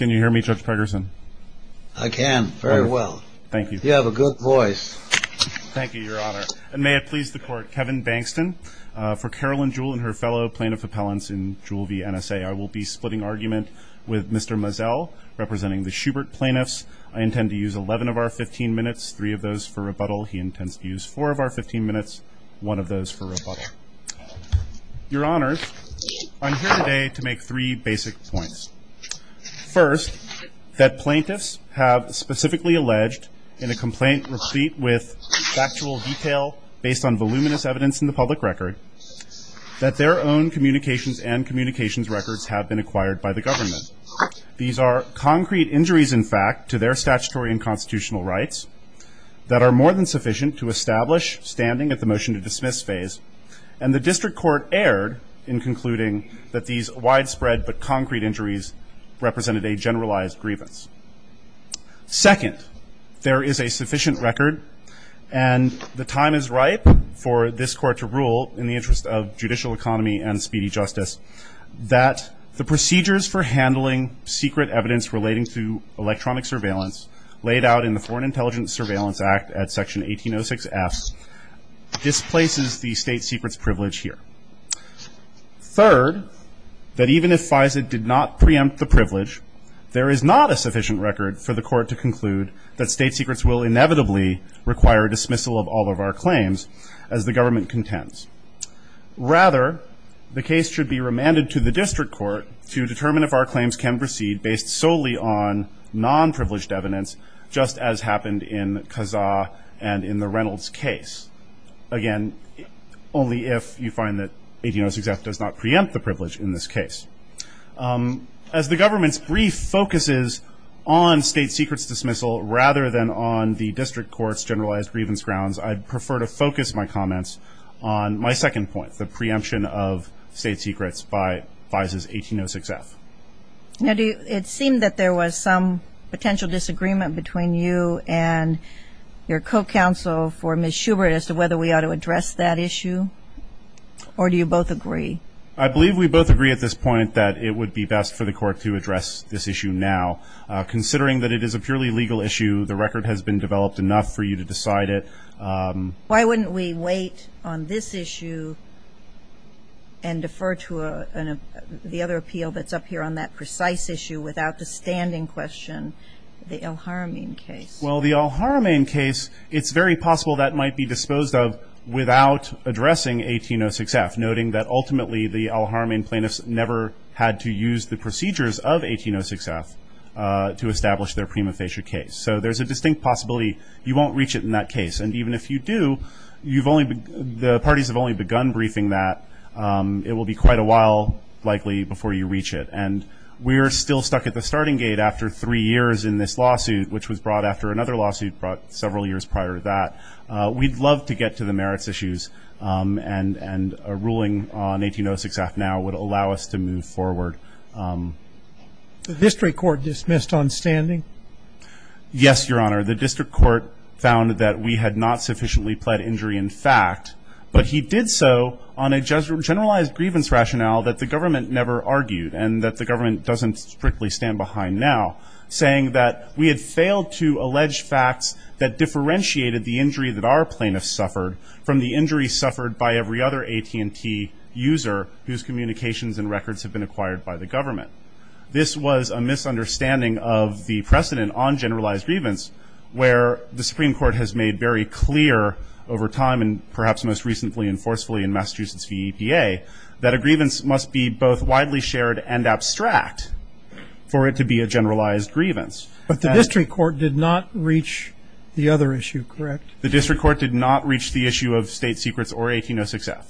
May it please the Court, Kevin Bankston. For Carolyn Jewel and her fellow plaintiff appellants in Jewel v. NSA, I will be splitting argument with Mr. Mazzel, representing the Schubert plaintiffs. I intend to use 11 of our 15 minutes, 3 of those for rebuttal. He intends to use 4 of our 15 minutes, 1 of those for rebuttal. Your Honors, I'm here today to make 3 basic points. First, that plaintiffs have specifically alleged in a complaint replete with factual detail based on voluminous evidence in the public record that their own communications and communications records have been acquired by the government. These are concrete injuries, in fact, to their statutory and constitutional rights that are more than sufficient to establish standing at the motion to dismiss phase, and the district court erred in concluding that these widespread but concrete injuries represented a generalized grievance. Second, there is a sufficient record, and the time is ripe for this court to rule in the interest of judicial economy and speedy justice, that the procedures for handling secret evidence relating to electronic surveillance laid out in the Foreign Intelligence Surveillance Act at Section 1806F displaces the state secrets privilege here. Third, that even if FISA did not preempt the privilege, there is not a sufficient record for the court to conclude that state secrets will inevitably require dismissal of all of our claims as the government contends. Rather, the case should be remanded to the district court to determine if our claims can proceed based solely on non-privileged evidence, just as happened in Kazaa and in the Reynolds case. Again, only if you find that 1806F does not preempt the privilege in this case. As the government's brief focuses on state secrets dismissal rather than on the district court's generalized grievance grounds, I'd prefer to focus my comments on my second point, the preemption of state secrets by FISA's 1806F. Now, do you, it seemed that there was some potential disagreement between you and your co-counsel for Ms. Schubert as to whether we ought to address that issue, or do you both agree? I believe we both agree at this point that it would be best for the court to address this issue now. Considering that it is a purely legal issue, the record has been developed enough for you to decide it. Why wouldn't we wait on this issue and defer to the other appeal that's up here on that precise issue without the standing question, the al-Haramein case? Well, the al-Haramein case, it's very possible that might be disposed of without addressing 1806F, noting that ultimately the al-Haramein plaintiffs never had to use the procedures of 1806F to establish their prima facie case. So there's a distinct possibility you won't reach it in that case. And even if you do, you've only, the parties have only begun briefing that. It will be quite a while likely before you reach it. And we're still stuck at the starting gate after three years in this lawsuit, which was brought after another lawsuit brought several years prior to that. We'd love to get to the merits issues, and a ruling on 1806F now would allow us to move forward. The district court dismissed on standing? Yes, Your Honor. The district court found that we had not sufficiently pled injury in fact, but he did so on a generalized grievance rationale that the government never argued, and that the government doesn't strictly stand behind now, saying that we had failed to allege facts that differentiated the injury that our plaintiffs suffered from the injury suffered by every other AT&T user whose communications and records have been acquired by the government. This was a misunderstanding of the precedent on generalized grievance where the Supreme Court has made very clear over time and perhaps most recently and forcefully in Massachusetts v. EPA that a grievance must be both widely shared and abstract for it to be a generalized grievance. But the district court did not reach the other issue, correct? The district court did not reach the issue of state secrets or 1806F.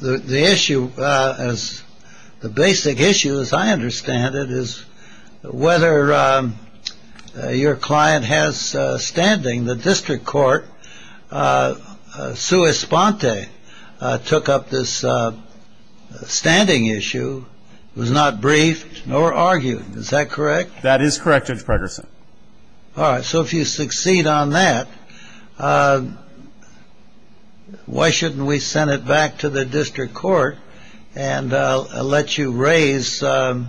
The issue as the basic issue, as I understand it, is whether your client has standing. The district court, sua sponte, took up this standing issue. It was not briefed nor argued. Is that correct? That is correct, Judge Pregerson. All right. So if you succeed on that, why shouldn't we send it back to the district court and let you raise the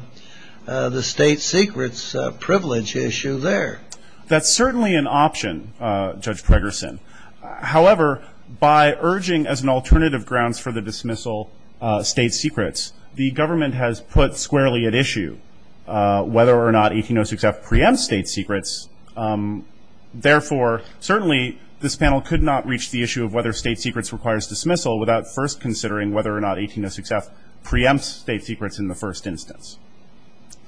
state secrets privilege issue there? That's certainly an option, Judge Pregerson. However, by urging as an alternative grounds for the dismissal state secrets, the government has put squarely at issue whether or not 1806F preempts state secrets. Therefore, certainly this panel could not reach the issue of whether state secrets requires dismissal without first considering whether or not 1806F preempts state secrets in the first instance.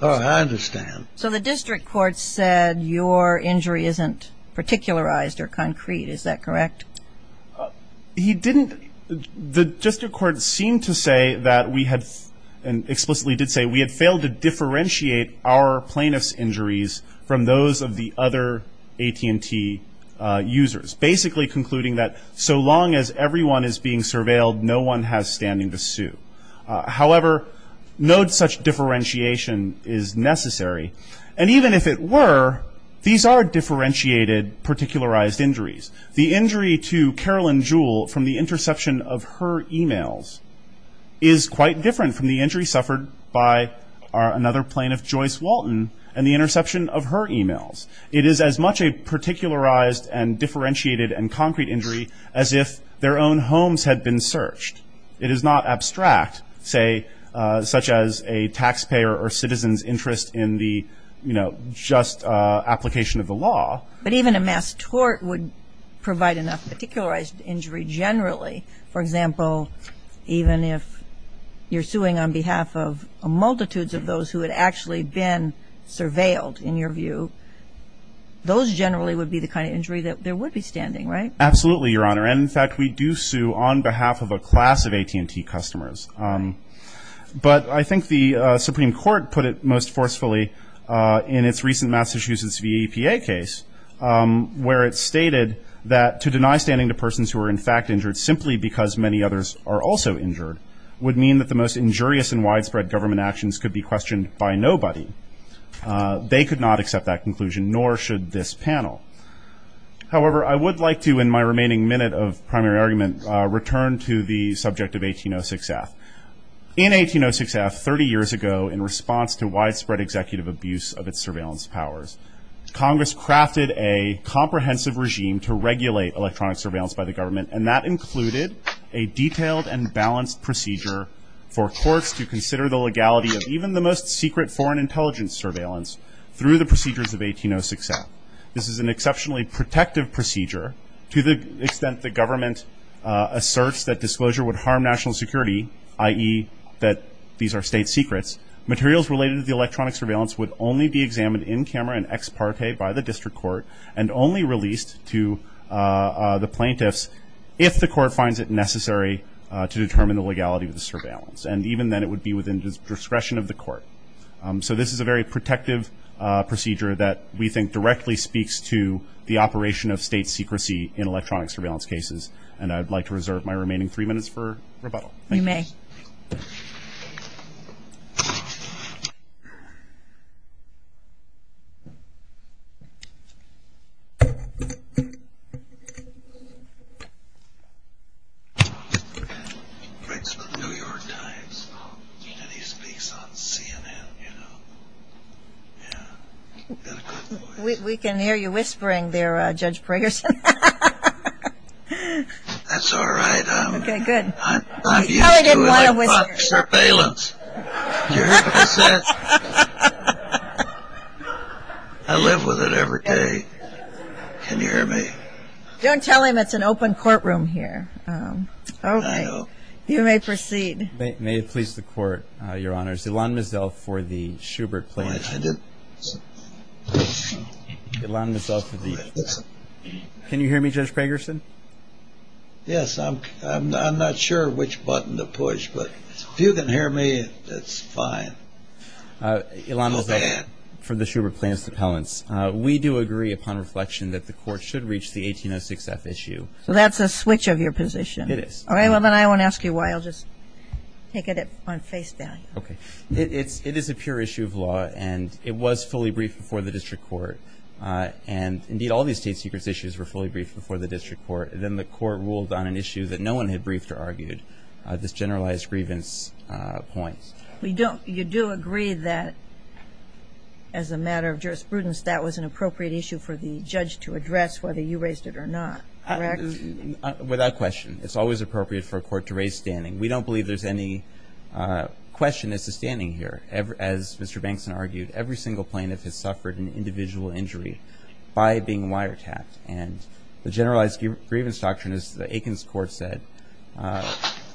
Oh, I understand. So the district court said your injury isn't particularized or concrete. Is that correct? He didn't. The district court seemed to say that we had, and explicitly did say, we had failed to differentiate our plaintiff's injuries from those of the other AT&T users, basically concluding that so long as everyone is being surveilled, no one has standing to sue. However, no such differentiation is necessary. And even if it were, these are differentiated, particularized injuries. The injury to Carolyn Jewell from the interception of her e-mails is quite different from the injury suffered by another plaintiff, Joyce Walton, and the interception of her e-mails. It is as much a particularized and differentiated and concrete injury as if their own homes had been searched. It is not abstract, say, such as a taxpayer or citizen's interest in the, you know, just application of the law. But even a mass tort would provide enough particularized injury generally. For example, even if you're suing on behalf of multitudes of those who had actually been surveilled, in your view, those generally would be the kind of injury that there would be standing, right? Absolutely, Your Honor. And, in fact, we do sue on behalf of a class of AT&T customers. But I think the Supreme Court put it most forcefully in its recent Massachusetts VEPA case, where it stated that to deny standing to persons who are, in fact, injured simply because many others are also injured would mean that the most injurious and widespread government actions could be questioned by nobody. They could not accept that conclusion, nor should this panel. However, I would like to, in my remaining minute of primary argument, return to the subject of 1806F. In 1806F, 30 years ago, in response to widespread executive abuse of its surveillance powers, Congress crafted a comprehensive regime to regulate electronic surveillance by the government, and that included a detailed and balanced procedure for courts to consider the legality of even the most secret foreign intelligence surveillance through the procedures of 1806F. This is an exceptionally protective procedure. To the extent the government asserts that disclosure would harm national security, i.e., that these are state secrets, materials related to the electronic surveillance would only be examined in camera and ex parte by the district court and only released to the plaintiffs if the court finds it necessary to determine the legality of the surveillance. And even then, it would be within the discretion of the court. So this is a very protective procedure that we think directly speaks to the operation of state secrecy in electronic surveillance cases, and I'd like to reserve my remaining three minutes for rebuttal. Thank you. We can hear you whispering there, Judge Pragerson. That's all right. Okay, good. I'm used to it. I didn't want to whisper. I love surveillance. You hear what I said? I live with it every day. Can you hear me? Don't tell him it's an open courtroom here. Okay. You may proceed. May it please the court, Your Honors. Ilan Mizelf for the Shubert Plaintiffs. Ilan Mizelf. Can you hear me, Judge Pragerson? Yes. I'm not sure which button to push, but if you can hear me, that's fine. Ilan Mizelf for the Shubert Plaintiffs Appellants. We do agree upon reflection that the court should reach the 1806F issue. So that's a switch of your position. It is. All right, well, then I won't ask you why. I'll just take it on face value. Okay. It is a pure issue of law, and it was fully briefed before the district court, and indeed all these state secrets issues were fully briefed before the district court, and then the court ruled on an issue that no one had briefed or argued, this generalized grievance point. You do agree that as a matter of jurisprudence, that was an appropriate issue for the judge to address whether you raised it or not, correct? Without question. It's always appropriate for a court to raise standing. We don't believe there's any question as to standing here. As Mr. Bankson argued, every single plaintiff has suffered an individual injury by being wiretapped, and the generalized grievance doctrine, as the Aikens Court said,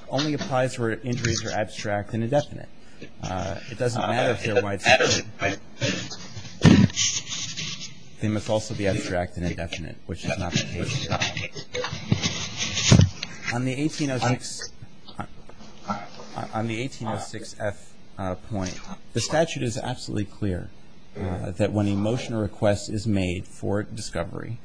only applies where injuries are abstract and indefinite. It doesn't matter if they're widespread. They must also be abstract and indefinite, which is not the case. On the 1806 F point, the statute is absolutely clear that when a motion or request is made for discovery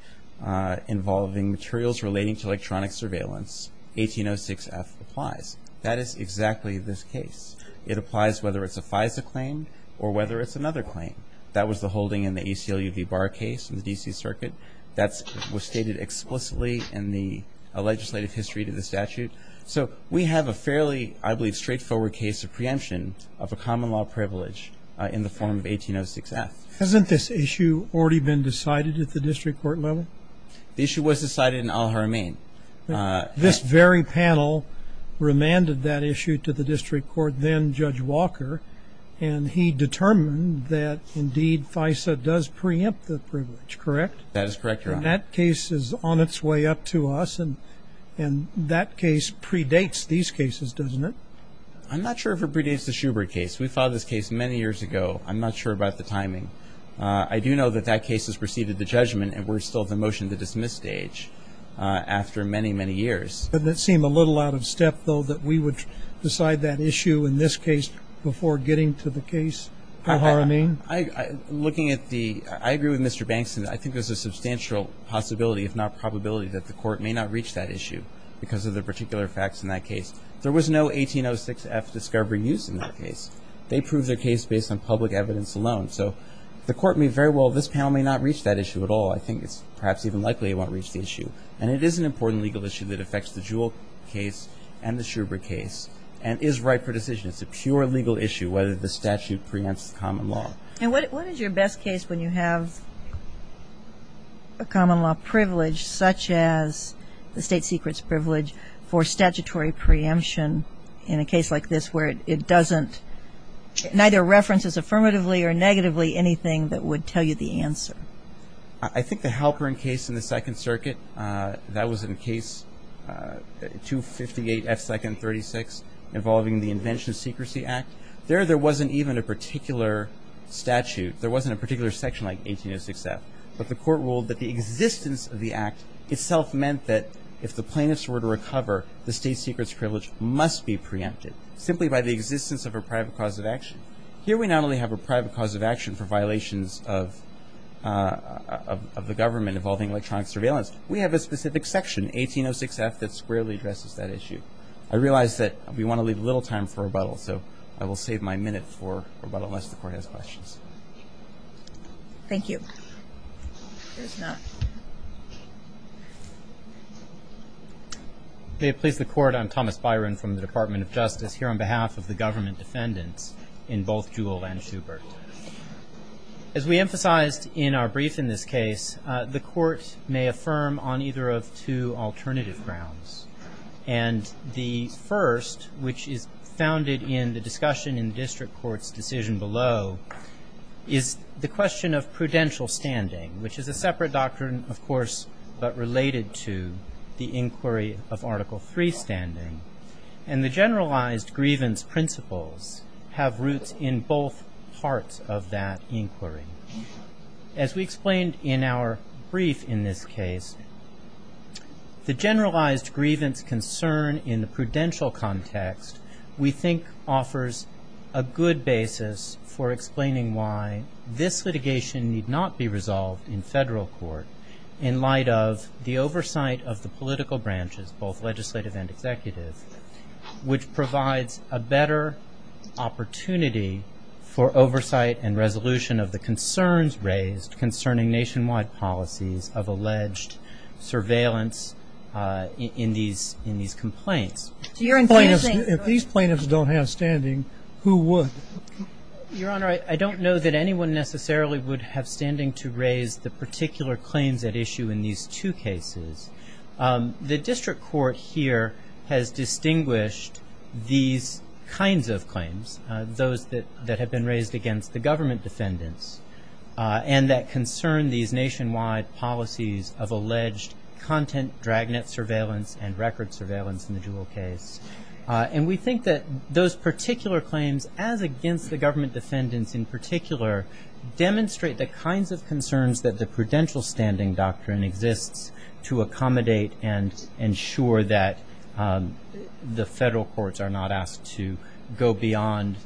involving materials relating to electronic surveillance, 1806 F applies. That is exactly this case. It applies whether it's a FISA claim or whether it's another claim. That was the holding in the ACLU v. Barr case in the D.C. Circuit. That was stated explicitly in the legislative history to the statute. So we have a fairly, I believe, straightforward case of preemption of a common law privilege in the form of 1806 F. Hasn't this issue already been decided at the district court level? The issue was decided in Al-Haramain. This very panel remanded that issue to the district court, then Judge Walker, and he determined that, indeed, FISA does preempt the privilege, correct? That is correct, Your Honor. And that case is on its way up to us, and that case predates these cases, doesn't it? I'm not sure if it predates the Schubert case. We filed this case many years ago. I'm not sure about the timing. I do know that that case has preceded the judgment, and we're still at the motion to dismiss stage after many, many years. Doesn't it seem a little out of step, though, that we would decide that issue in this case before getting to the case at Al-Haramain? Looking at the ‑‑ I agree with Mr. Bankson. I think there's a substantial possibility, if not probability, that the court may not reach that issue because of the particular facts in that case. There was no 1806 F discovery used in that case. They proved their case based on public evidence alone. So the court may very well ‑‑ this panel may not reach that issue at all. I think it's perhaps even likely it won't reach the issue. And it is an important legal issue that affects the Jewell case and the Schubert case and is right for decision. It's a pure legal issue whether the statute preempts the common law. And what is your best case when you have a common law privilege, such as the state secrets privilege, for statutory preemption in a case like this where it doesn't ‑‑ neither references affirmatively or negatively anything that would tell you the answer? I think the Halperin case in the Second Circuit, that was in case 258 F. 2nd. 36, involving the Invention Secrecy Act. There, there wasn't even a particular statute. There wasn't a particular section like 1806 F. But the court ruled that the existence of the act itself meant that if the plaintiffs were to recover, the state secrets privilege must be preempted, simply by the existence of a private cause of action. Here we not only have a private cause of action for violations of the government involving electronic surveillance, we have a specific section, 1806 F, that squarely addresses that issue. I realize that we want to leave a little time for rebuttal, so I will save my minute for rebuttal unless the court has questions. Thank you. There's none. May it please the court, I'm Thomas Byron from the Department of Justice, here on behalf of the government defendants in both Jewell and Schubert. As we emphasized in our brief in this case, the court may affirm on either of two alternative grounds. And the first, which is founded in the discussion in the district court's decision below, is the question of prudential standing, which is a separate doctrine, of course, but related to the inquiry of Article III standing. And the generalized grievance principles have roots in both parts of that inquiry. As we explained in our brief in this case, the generalized grievance concern in the prudential context, we think offers a good basis for explaining why this litigation need not be resolved in federal court in light of the oversight of the political branches, both legislative and executive, which provides a better opportunity for oversight and resolution of the concerns raised concerning nationwide policies of alleged surveillance in these complaints. If these plaintiffs don't have standing, who would? Your Honor, I don't know that anyone necessarily would have standing to raise the particular claims at issue in these two cases. The district court here has distinguished these kinds of claims, those that have been raised against the government defendants, and that concern these nationwide policies of alleged content, dragnet surveillance, and record surveillance in the Jewell case. And we think that those particular claims, as against the government defendants in particular, demonstrate the kinds of concerns that the prudential standing doctrine exists to accommodate and ensure that the federal courts are not asked to go beyond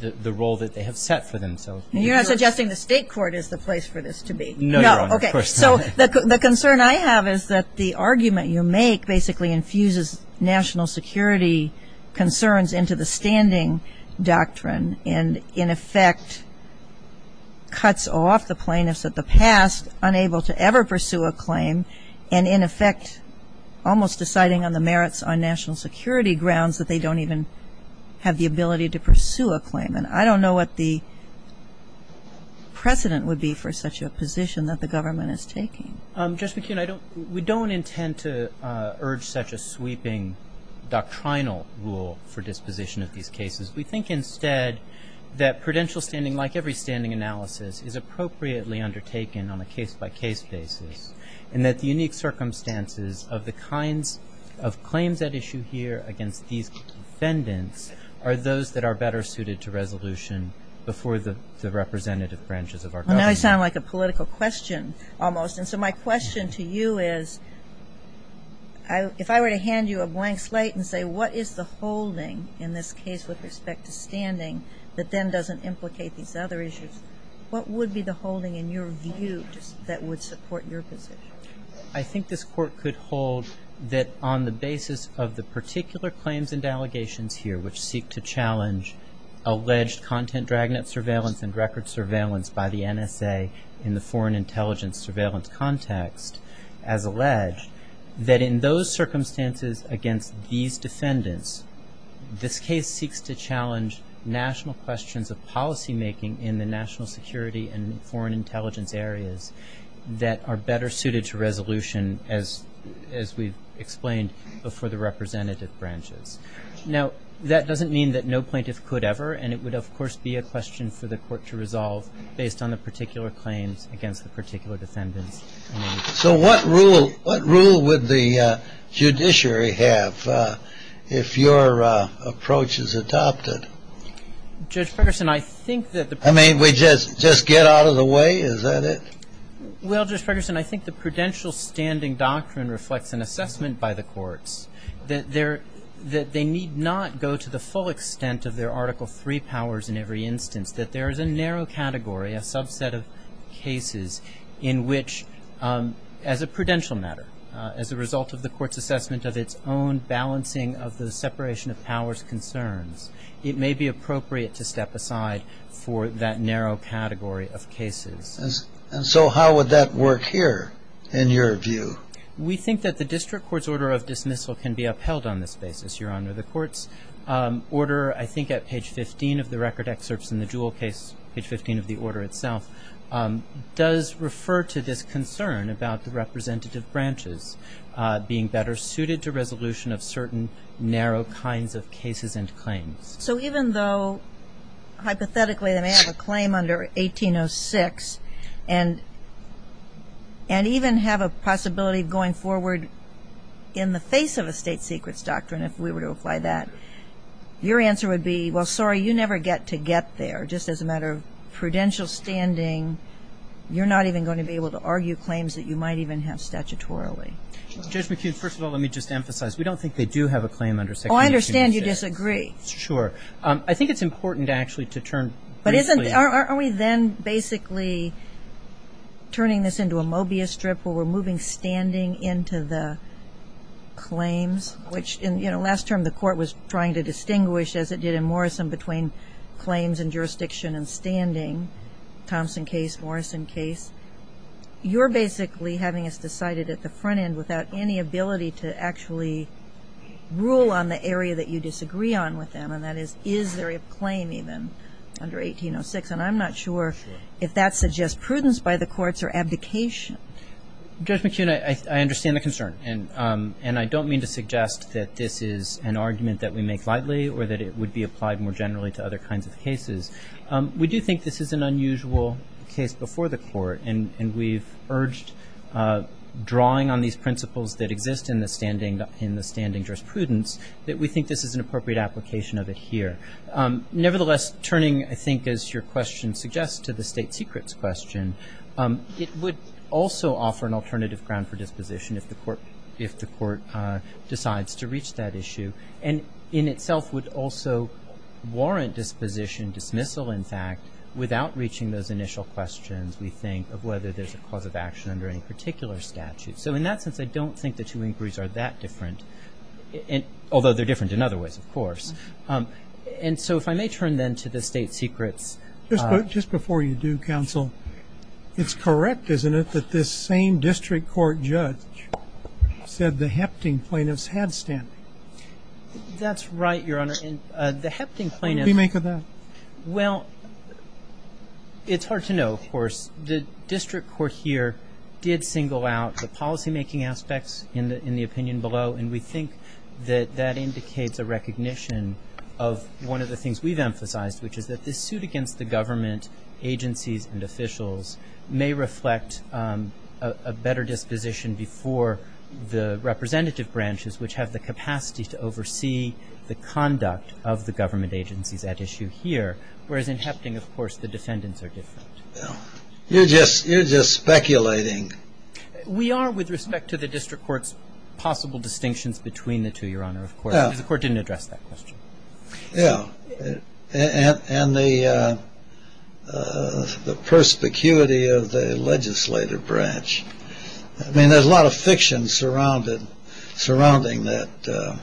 the role that they have set for themselves. You're not suggesting the state court is the place for this to be? No, Your Honor. Okay. So the concern I have is that the argument you make basically infuses national security concerns into the standing doctrine and in effect cuts off the plaintiffs of the past unable to ever pursue a claim and in effect almost deciding on the merits on national security grounds that they don't even have the ability to pursue a claim. And I don't know what the precedent would be for such a position that the government is taking. Justice McKeon, we don't intend to urge such a sweeping doctrinal rule for disposition of these cases. We think instead that prudential standing, like every standing analysis, is appropriately undertaken on a case-by-case basis and that the unique circumstances of the kinds of claims at issue here against these defendants are those that are better suited to resolution before the representative branches of our government. Well, now you sound like a political question almost. And so my question to you is if I were to hand you a blank slate and say, what is the holding in this case with respect to standing that then doesn't implicate these other issues, what would be the holding in your view that would support your position? I think this court could hold that on the basis of the particular claims and allegations here which seek to challenge alleged content dragnet surveillance and record surveillance by the NSA in the foreign intelligence surveillance context, as alleged, that in those circumstances against these defendants, this case seeks to challenge national questions of policymaking in the national security and foreign intelligence areas that are better suited to resolution, as we've explained, before the representative branches. Now, that doesn't mean that no plaintiff could ever, and it would, of course, be a question for the court to resolve based on the particular claims against the particular defendants. So what rule would the judiciary have if your approach is adopted? Judge Ferguson, I think that the... I mean, we just get out of the way? Is that it? Well, Judge Ferguson, I think the prudential standing doctrine reflects an assessment by the courts that they need not go to the full extent of their Article III powers in every instance, that there is a narrow category, a subset of cases in which, as a prudential matter, as a result of the court's assessment of its own balancing of the separation of powers concerns, it may be appropriate to step aside for that narrow category of cases. And so how would that work here, in your view? We think that the district court's order of dismissal can be upheld on this basis, Your Honor. The court's order, I think, at page 15 of the record excerpts in the Jewell case, page 15 of the order itself, does refer to this concern about the representative branches being better suited to resolution of certain narrow kinds of cases and claims. So even though, hypothetically, they may have a claim under 1806 and even have a possibility of going forward in the face of a state secrets doctrine, if we were to apply that, your answer would be, well, sorry, you never get to get there. Just as a matter of prudential standing, you're not even going to be able to argue claims that you might even have statutorily. Judge McHugh, first of all, let me just emphasize, we don't think they do have a claim under section 1806. Oh, I understand you disagree. Sure. I think it's important, actually, to turn briefly. But aren't we then basically turning this into a Mobius strip where we're moving standing into the claims, which, you know, last term the court was trying to distinguish, as it did in Morrison, between claims and jurisdiction and standing, Thompson case, Morrison case. You're basically having us decided at the front end without any ability to actually rule on the area that you disagree on with them, and that is, is there a claim even under 1806? And I'm not sure if that suggests prudence by the courts or abdication. Judge McHugh, I understand the concern. And I don't mean to suggest that this is an argument that we make lightly or that it would be applied more generally to other kinds of cases. We do think this is an unusual case before the court, and we've urged drawing on these principles that exist in the standing jurisprudence that we think this is an appropriate application of it here. Nevertheless, turning, I think, as your question suggests, to the state secrets question, it would also offer an alternative ground for disposition if the court decides to reach that issue, and in itself would also warrant disposition, dismissal, in fact, without reaching those initial questions, we think, of whether there's a cause of action under any particular statute. So in that sense, I don't think the two inquiries are that different, although they're different in other ways, of course. And so if I may turn then to the state secrets. Just before you do, counsel, it's correct, isn't it, that this same district court judge said the hefting plaintiffs had standing? That's right, Your Honor, and the hefting plaintiffs. What do we make of that? Well, it's hard to know, of course. The district court here did single out the policymaking aspects in the opinion below, and we think that that indicates a recognition of one of the things we've emphasized, which is that this suit against the government agencies and officials may reflect a better disposition before the representative branches, which have the capacity to oversee the conduct of the government agencies at issue here, whereas in hefting, of course, the defendants are different. You're just speculating. We are, with respect to the district court's possible distinctions between the two, Your Honor, of course, because the court didn't address that question. Yeah, and the perspicuity of the legislative branch. I mean, there's a lot of fiction surrounding that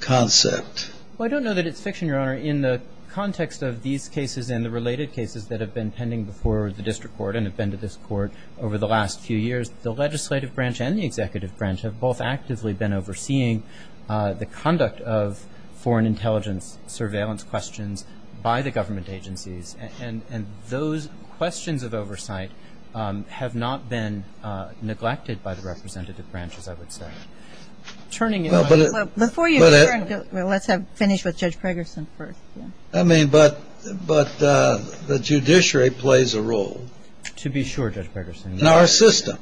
concept. Well, I don't know that it's fiction, Your Honor. In the context of these cases and the related cases that have been pending before the district court and have been to this court over the last few years, the legislative branch and the executive branch have both actively been overseeing the conduct of foreign intelligence surveillance questions by the government agencies, and those questions of oversight have not been neglected by the representative branch, as I would say. Turning it over. Before you turn it over, let's finish with Judge Pregerson first. I mean, but the judiciary plays a role. To be sure, Judge Pregerson. In our system.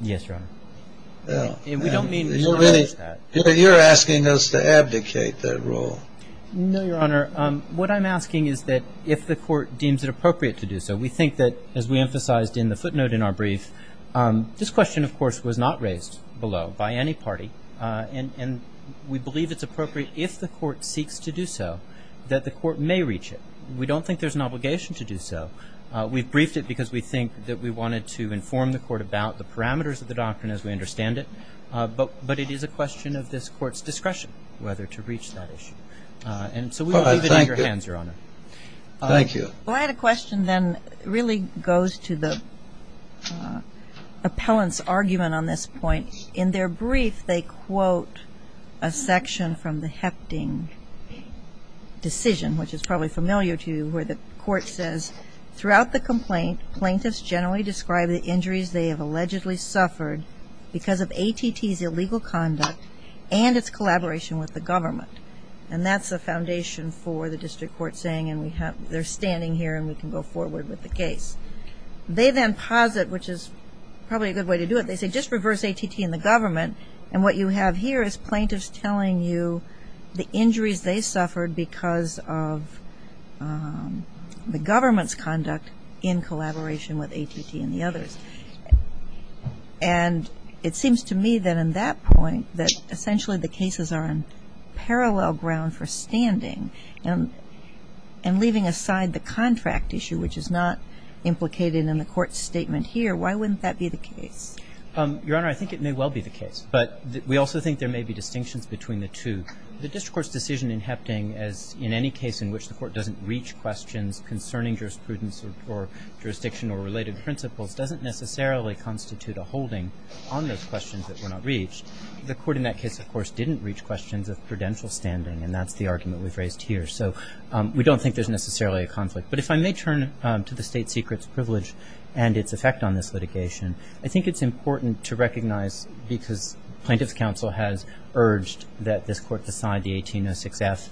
Yes, Your Honor. And we don't mean to dismiss that. You're asking us to abdicate that role. No, Your Honor. What I'm asking is that if the court deems it appropriate to do so, we think that, as we emphasized in the footnote in our brief, this question, of course, was not raised below by any party, and we believe it's appropriate if the court seeks to do so that the court may reach it. We don't think there's an obligation to do so. We've briefed it because we think that we wanted to inform the court about the parameters of the doctrine as we understand it, but it is a question of this court's discretion whether to reach that issue. And so we'll leave it in your hands, Your Honor. Thank you. Thank you. Well, I had a question then really goes to the appellant's argument on this point. In their brief, they quote a section from the Hefting decision, which is probably familiar to you, where the court says, throughout the complaint, plaintiffs generally describe the injuries they have allegedly suffered because of ATT's illegal conduct and its collaboration with the government. And that's the foundation for the district court saying they're standing here and we can go forward with the case. They then posit, which is probably a good way to do it, they say just reverse ATT and the government, and what you have here is plaintiffs telling you the injuries they suffered because of the government's conduct in collaboration with ATT and the others. And it seems to me that in that point that essentially the cases are in parallel ground for standing and leaving aside the contract issue, which is not implicated in the court's statement here. Why wouldn't that be the case? Your Honor, I think it may well be the case. But we also think there may be distinctions between the two. The district court's decision in Hefting as in any case in which the court doesn't reach questions concerning jurisprudence or jurisdiction or related principles doesn't necessarily constitute a holding on those questions that were not reached. The court in that case, of course, didn't reach questions of prudential standing, and that's the argument we've raised here. So we don't think there's necessarily a conflict. But if I may turn to the state secret's privilege and its effect on this litigation, I think it's important to recognize because plaintiff's counsel has urged that this court decide the 1806F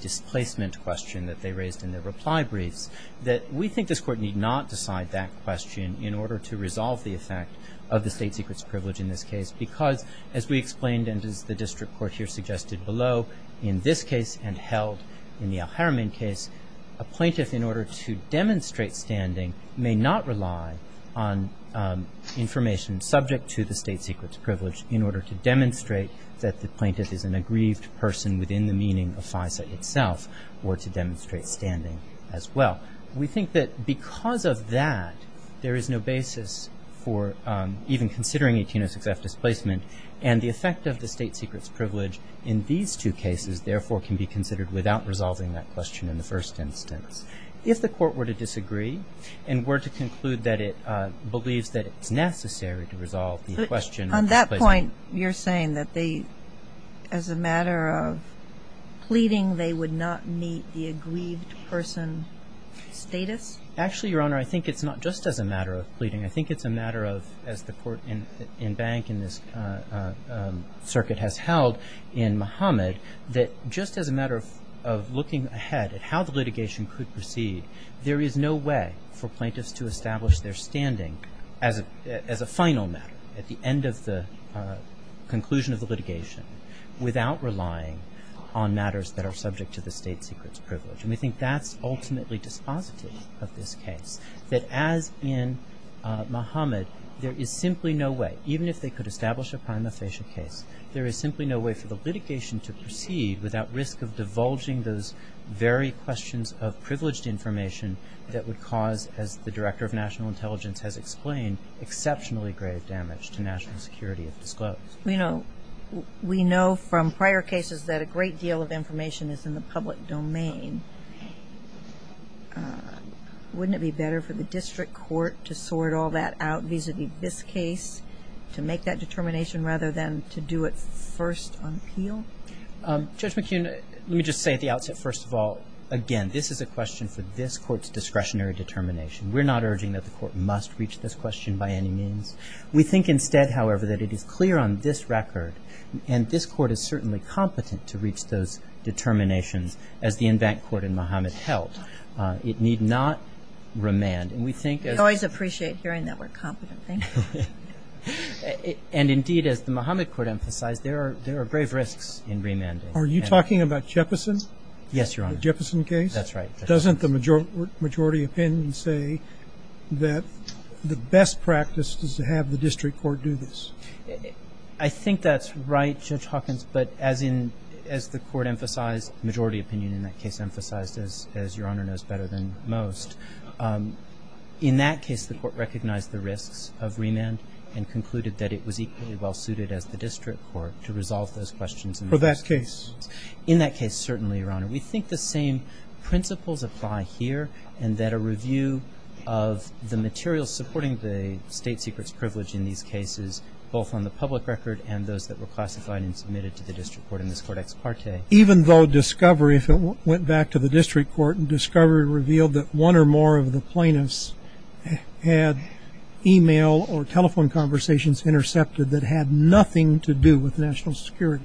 displacement question that they raised in their reply briefs, that we think this court need not decide that question in order to resolve the effect of the state secret's privilege in this case because, as we explained and as the district court here suggested below, in this case and held in the Al-Haramin case, a plaintiff, in order to demonstrate standing, may not rely on information subject to the state secret's privilege in order to demonstrate that the plaintiff is an aggrieved person within the meaning of FISA itself or to demonstrate standing as well. We think that because of that, there is no basis for even considering 1806F displacement and the effect of the state secret's privilege in these two cases, therefore, can be considered without resolving that question in the first instance. If the court were to disagree and were to conclude that it believes that it's necessary to resolve the question of displacement On that point, you're saying that they, as a matter of pleading, they would not meet the aggrieved person status? Actually, Your Honor, I think it's not just as a matter of pleading. I think it's a matter of, as the court in bank in this circuit has held in Mohammed, that just as a matter of looking ahead at how the litigation could proceed, there is no way for plaintiffs to establish their standing as a final matter at the end of the conclusion of the litigation without relying on matters that are subject to the state secret's privilege. And we think that's ultimately dispositive of this case. That as in Mohammed, there is simply no way, even if they could establish a prima facie case, there is simply no way for the litigation to proceed without risk of divulging those very questions of privileged information that would cause, as the Director of National Intelligence has explained, exceptionally grave damage to national security if disclosed. We know from prior cases that a great deal of information is in the public domain. Wouldn't it be better for the district court to sort all that out vis-à-vis this case to make that determination rather than to do it first on appeal? Judge McKeon, let me just say at the outset, first of all, again, this is a question for this court's discretionary determination. We're not urging that the court must reach this question by any means. We think instead, however, that it is clear on this record, and this court is certainly competent to reach those determinations as the en banc court in Mohammed held. It need not remand. And we think as the Mohammed court emphasized, there are grave risks in remanding. Are you talking about Jeppesen? Yes, Your Honor. The Jeppesen case? That's right. Doesn't the majority opinion say that the best practice is to have the district court do this? I think that's right, Judge Hawkins, but as the court emphasized, the majority opinion in that case emphasized, as Your Honor knows better than most, in that case the court recognized the risks of remand and concluded that it was equally well-suited as the district court to resolve those questions. For that case? In that case, certainly, Your Honor. We think the same principles apply here, and that a review of the materials supporting the state secret's privilege in these cases, both on the public record and those that were classified and submitted to the district court in this cortex parte. Even though discovery, if it went back to the district court, and discovery revealed that one or more of the plaintiffs had e-mail or telephone conversations intercepted that had nothing to do with national security?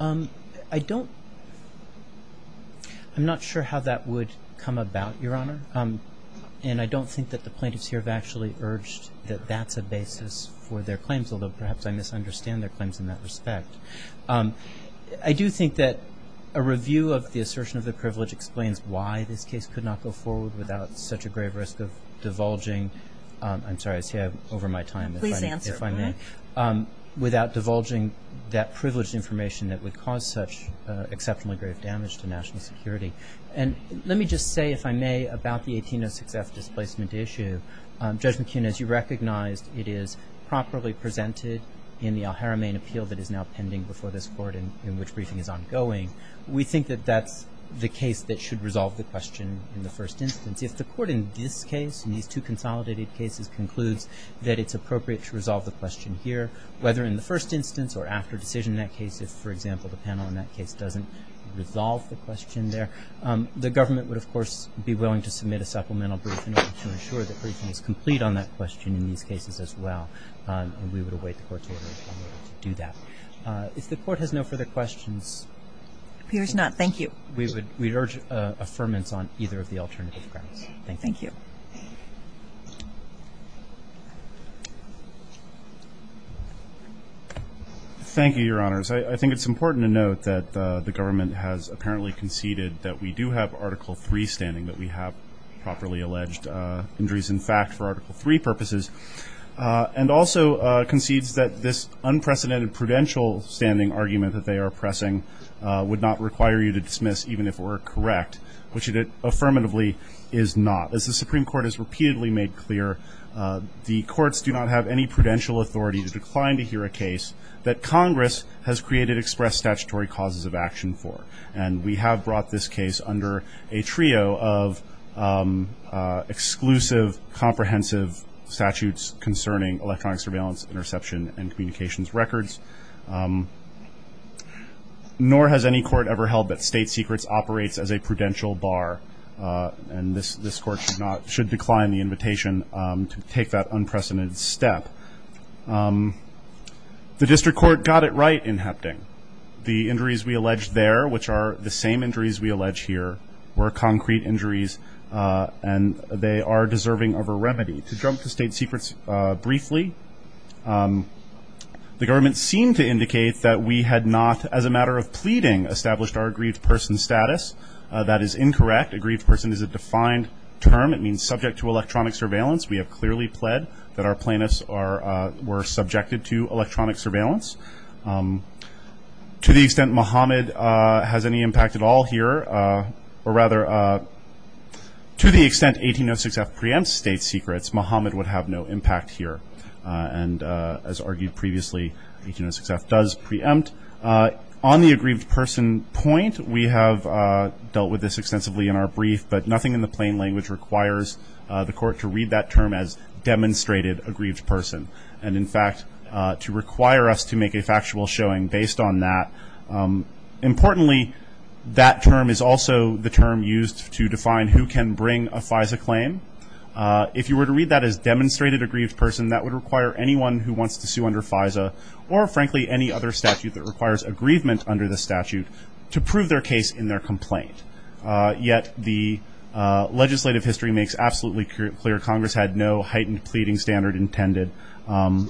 I don't – I'm not sure how that would come about, Your Honor, and I don't think that the plaintiffs here have actually urged that that's a basis for their claims, although perhaps I misunderstand their claims in that respect. I do think that a review of the assertion of the privilege explains why this case could not go forward without such a grave risk of divulging – I'm sorry, I say that over my time, if I may. Please answer, all right? Without divulging that privileged information that would cause such exceptionally grave damage to national security. And let me just say, if I may, about the 1806F displacement issue, Judge McKeon, as you recognized, it is properly presented in the Al-Haramain appeal that is now pending before this court and in which briefing is ongoing. We think that that's the case that should resolve the question in the first instance. If the court in this case, in these two consolidated cases, concludes that it's appropriate to resolve the question here, whether in the first instance or after decision in that case, if, for example, the panel in that case doesn't resolve the question there, the government would, of course, be willing to submit a supplemental briefing to ensure that briefing is complete on that question in these cases as well, and we would await the court's order in order to do that. If the court has no further questions. Appears not. Thank you. We urge affirmance on either of the alternative grounds. Thank you. Thank you. Thank you, Your Honors. I think it's important to note that the government has apparently conceded that we do have Article III standing, that we have properly alleged injuries in fact for Article III purposes, and also concedes that this unprecedented prudential standing argument that they are pressing would not require you to dismiss even if it were correct, which it affirmatively is not. As the Supreme Court has repeatedly made clear, the courts do not have any prudential authority to decline to hear a case that Congress has created express statutory causes of action for, and we have brought this case under a trio of exclusive, comprehensive statutes concerning electronic surveillance, interception, and communications records. Nor has any court ever held that state secrets operates as a prudential bar, and this court should decline the invitation to take that unprecedented step. The district court got it right in Hapting. The injuries we alleged there, which are the same injuries we allege here, To jump to state secrets briefly, the government seemed to indicate that we had not, as a matter of pleading, established our aggrieved person status. That is incorrect. Aggrieved person is a defined term. It means subject to electronic surveillance. We have clearly pled that our plaintiffs were subjected to electronic surveillance. To the extent Muhammad has any impact at all here, or rather, to the extent 1806F preempts state secrets, Muhammad would have no impact here, and as argued previously, 1806F does preempt. On the aggrieved person point, we have dealt with this extensively in our brief, but nothing in the plain language requires the court to read that term as demonstrated aggrieved person, and, in fact, to require us to make a factual showing based on that. Importantly, that term is also the term used to define who can bring a FISA claim. If you were to read that as demonstrated aggrieved person, that would require anyone who wants to sue under FISA, or frankly any other statute that requires aggrievement under the statute, to prove their case in their complaint. Yet the legislative history makes absolutely clear Congress had no heightened pleading standard intended.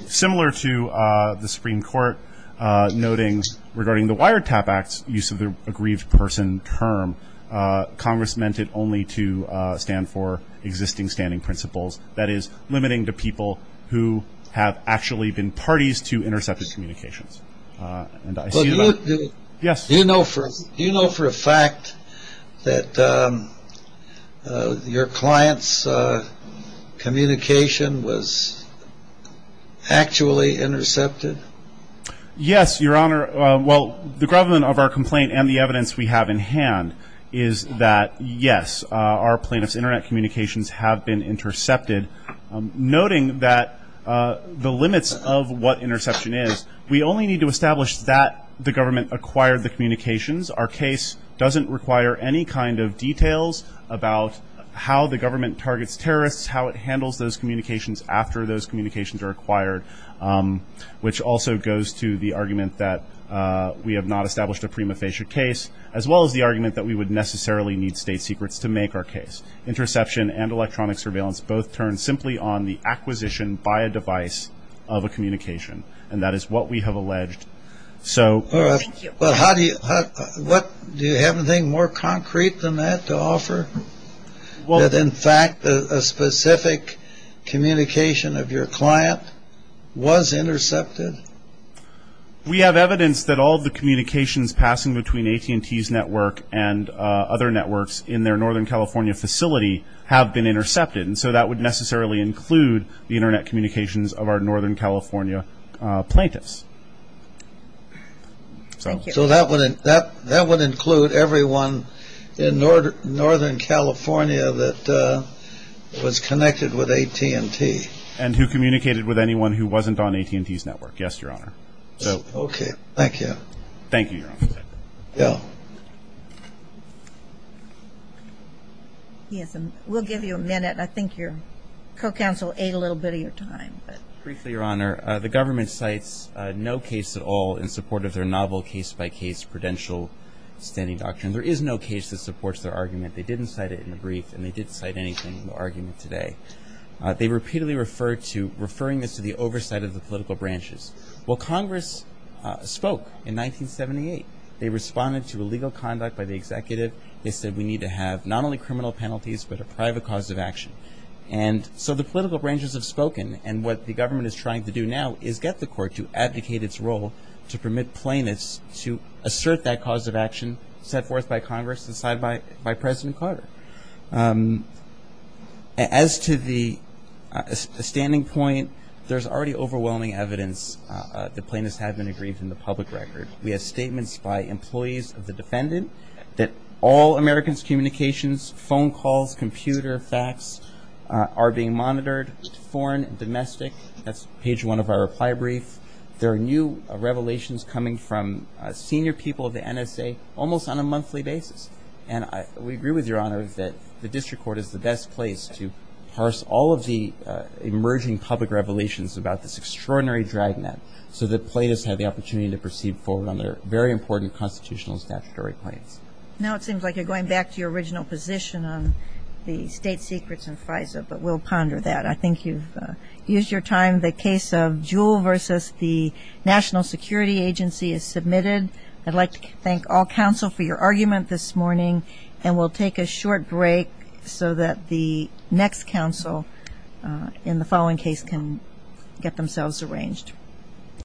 Similar to the Supreme Court noting regarding the Wiretap Act's use of the aggrieved person term, Congress meant it only to stand for existing standing principles, that is, limiting to people who have actually been parties to intercepted communications. Do you know for a fact that your client's communication was actually intercepted? Yes, Your Honor. Well, the government of our complaint and the evidence we have in hand is that, yes, our plaintiff's internet communications have been intercepted, noting that the limits of what interception is, we only need to establish that the government acquired the communications. Our case doesn't require any kind of details about how the government targets terrorists, how it handles those communications after those communications are acquired, which also goes to the argument that we have not established a prima facie case, as well as the argument that we would necessarily need state secrets to make our case. Interception and electronic surveillance both turn simply on the acquisition by a device of a communication, and that is what we have alleged. Do you have anything more concrete than that to offer, that in fact a specific communication of your client was intercepted? We have evidence that all of the communications passing between AT&T's network and other networks in their Northern California facility have been intercepted, and so that would necessarily include the internet communications of our Northern California plaintiffs. So that would include everyone in Northern California that was connected with AT&T? And who communicated with anyone who wasn't on AT&T's network, yes, Your Honor. Okay, thank you. Thank you, Your Honor. Bill. Yes, and we'll give you a minute. I think your co-counsel ate a little bit of your time. Briefly, Your Honor, the government cites no case at all in support of their novel case-by-case prudential standing doctrine. There is no case that supports their argument. They didn't cite it in the brief, and they didn't cite anything in the argument today. They repeatedly referred to referring this to the oversight of the political branches. Well, Congress spoke in 1978. They responded to illegal conduct by the executive. They said we need to have not only criminal penalties but a private cause of action. And so the political branches have spoken, and what the government is trying to do now is get the court to abdicate its role to permit plaintiffs to assert that cause of action set forth by Congress and cited by President Carter. As to the standing point, there's already overwhelming evidence that plaintiffs have been aggrieved in the public record. We have statements by employees of the defendant that all Americans' communications, phone calls, computer, fax are being monitored, foreign and domestic. That's page one of our reply brief. There are new revelations coming from senior people of the NSA almost on a monthly basis. And we agree with Your Honor that the district court is the best place to parse all of the emerging public revelations about this extraordinary dragnet so that plaintiffs have the opportunity to proceed forward on their very important constitutional statutory claims. Now it seems like you're going back to your original position on the state secrets in FISA, but we'll ponder that. I think you've used your time. The case of Jewell v. the National Security Agency is submitted. I'd like to thank all counsel for your argument this morning, and we'll take a short break so that the next counsel in the following case can get themselves arranged.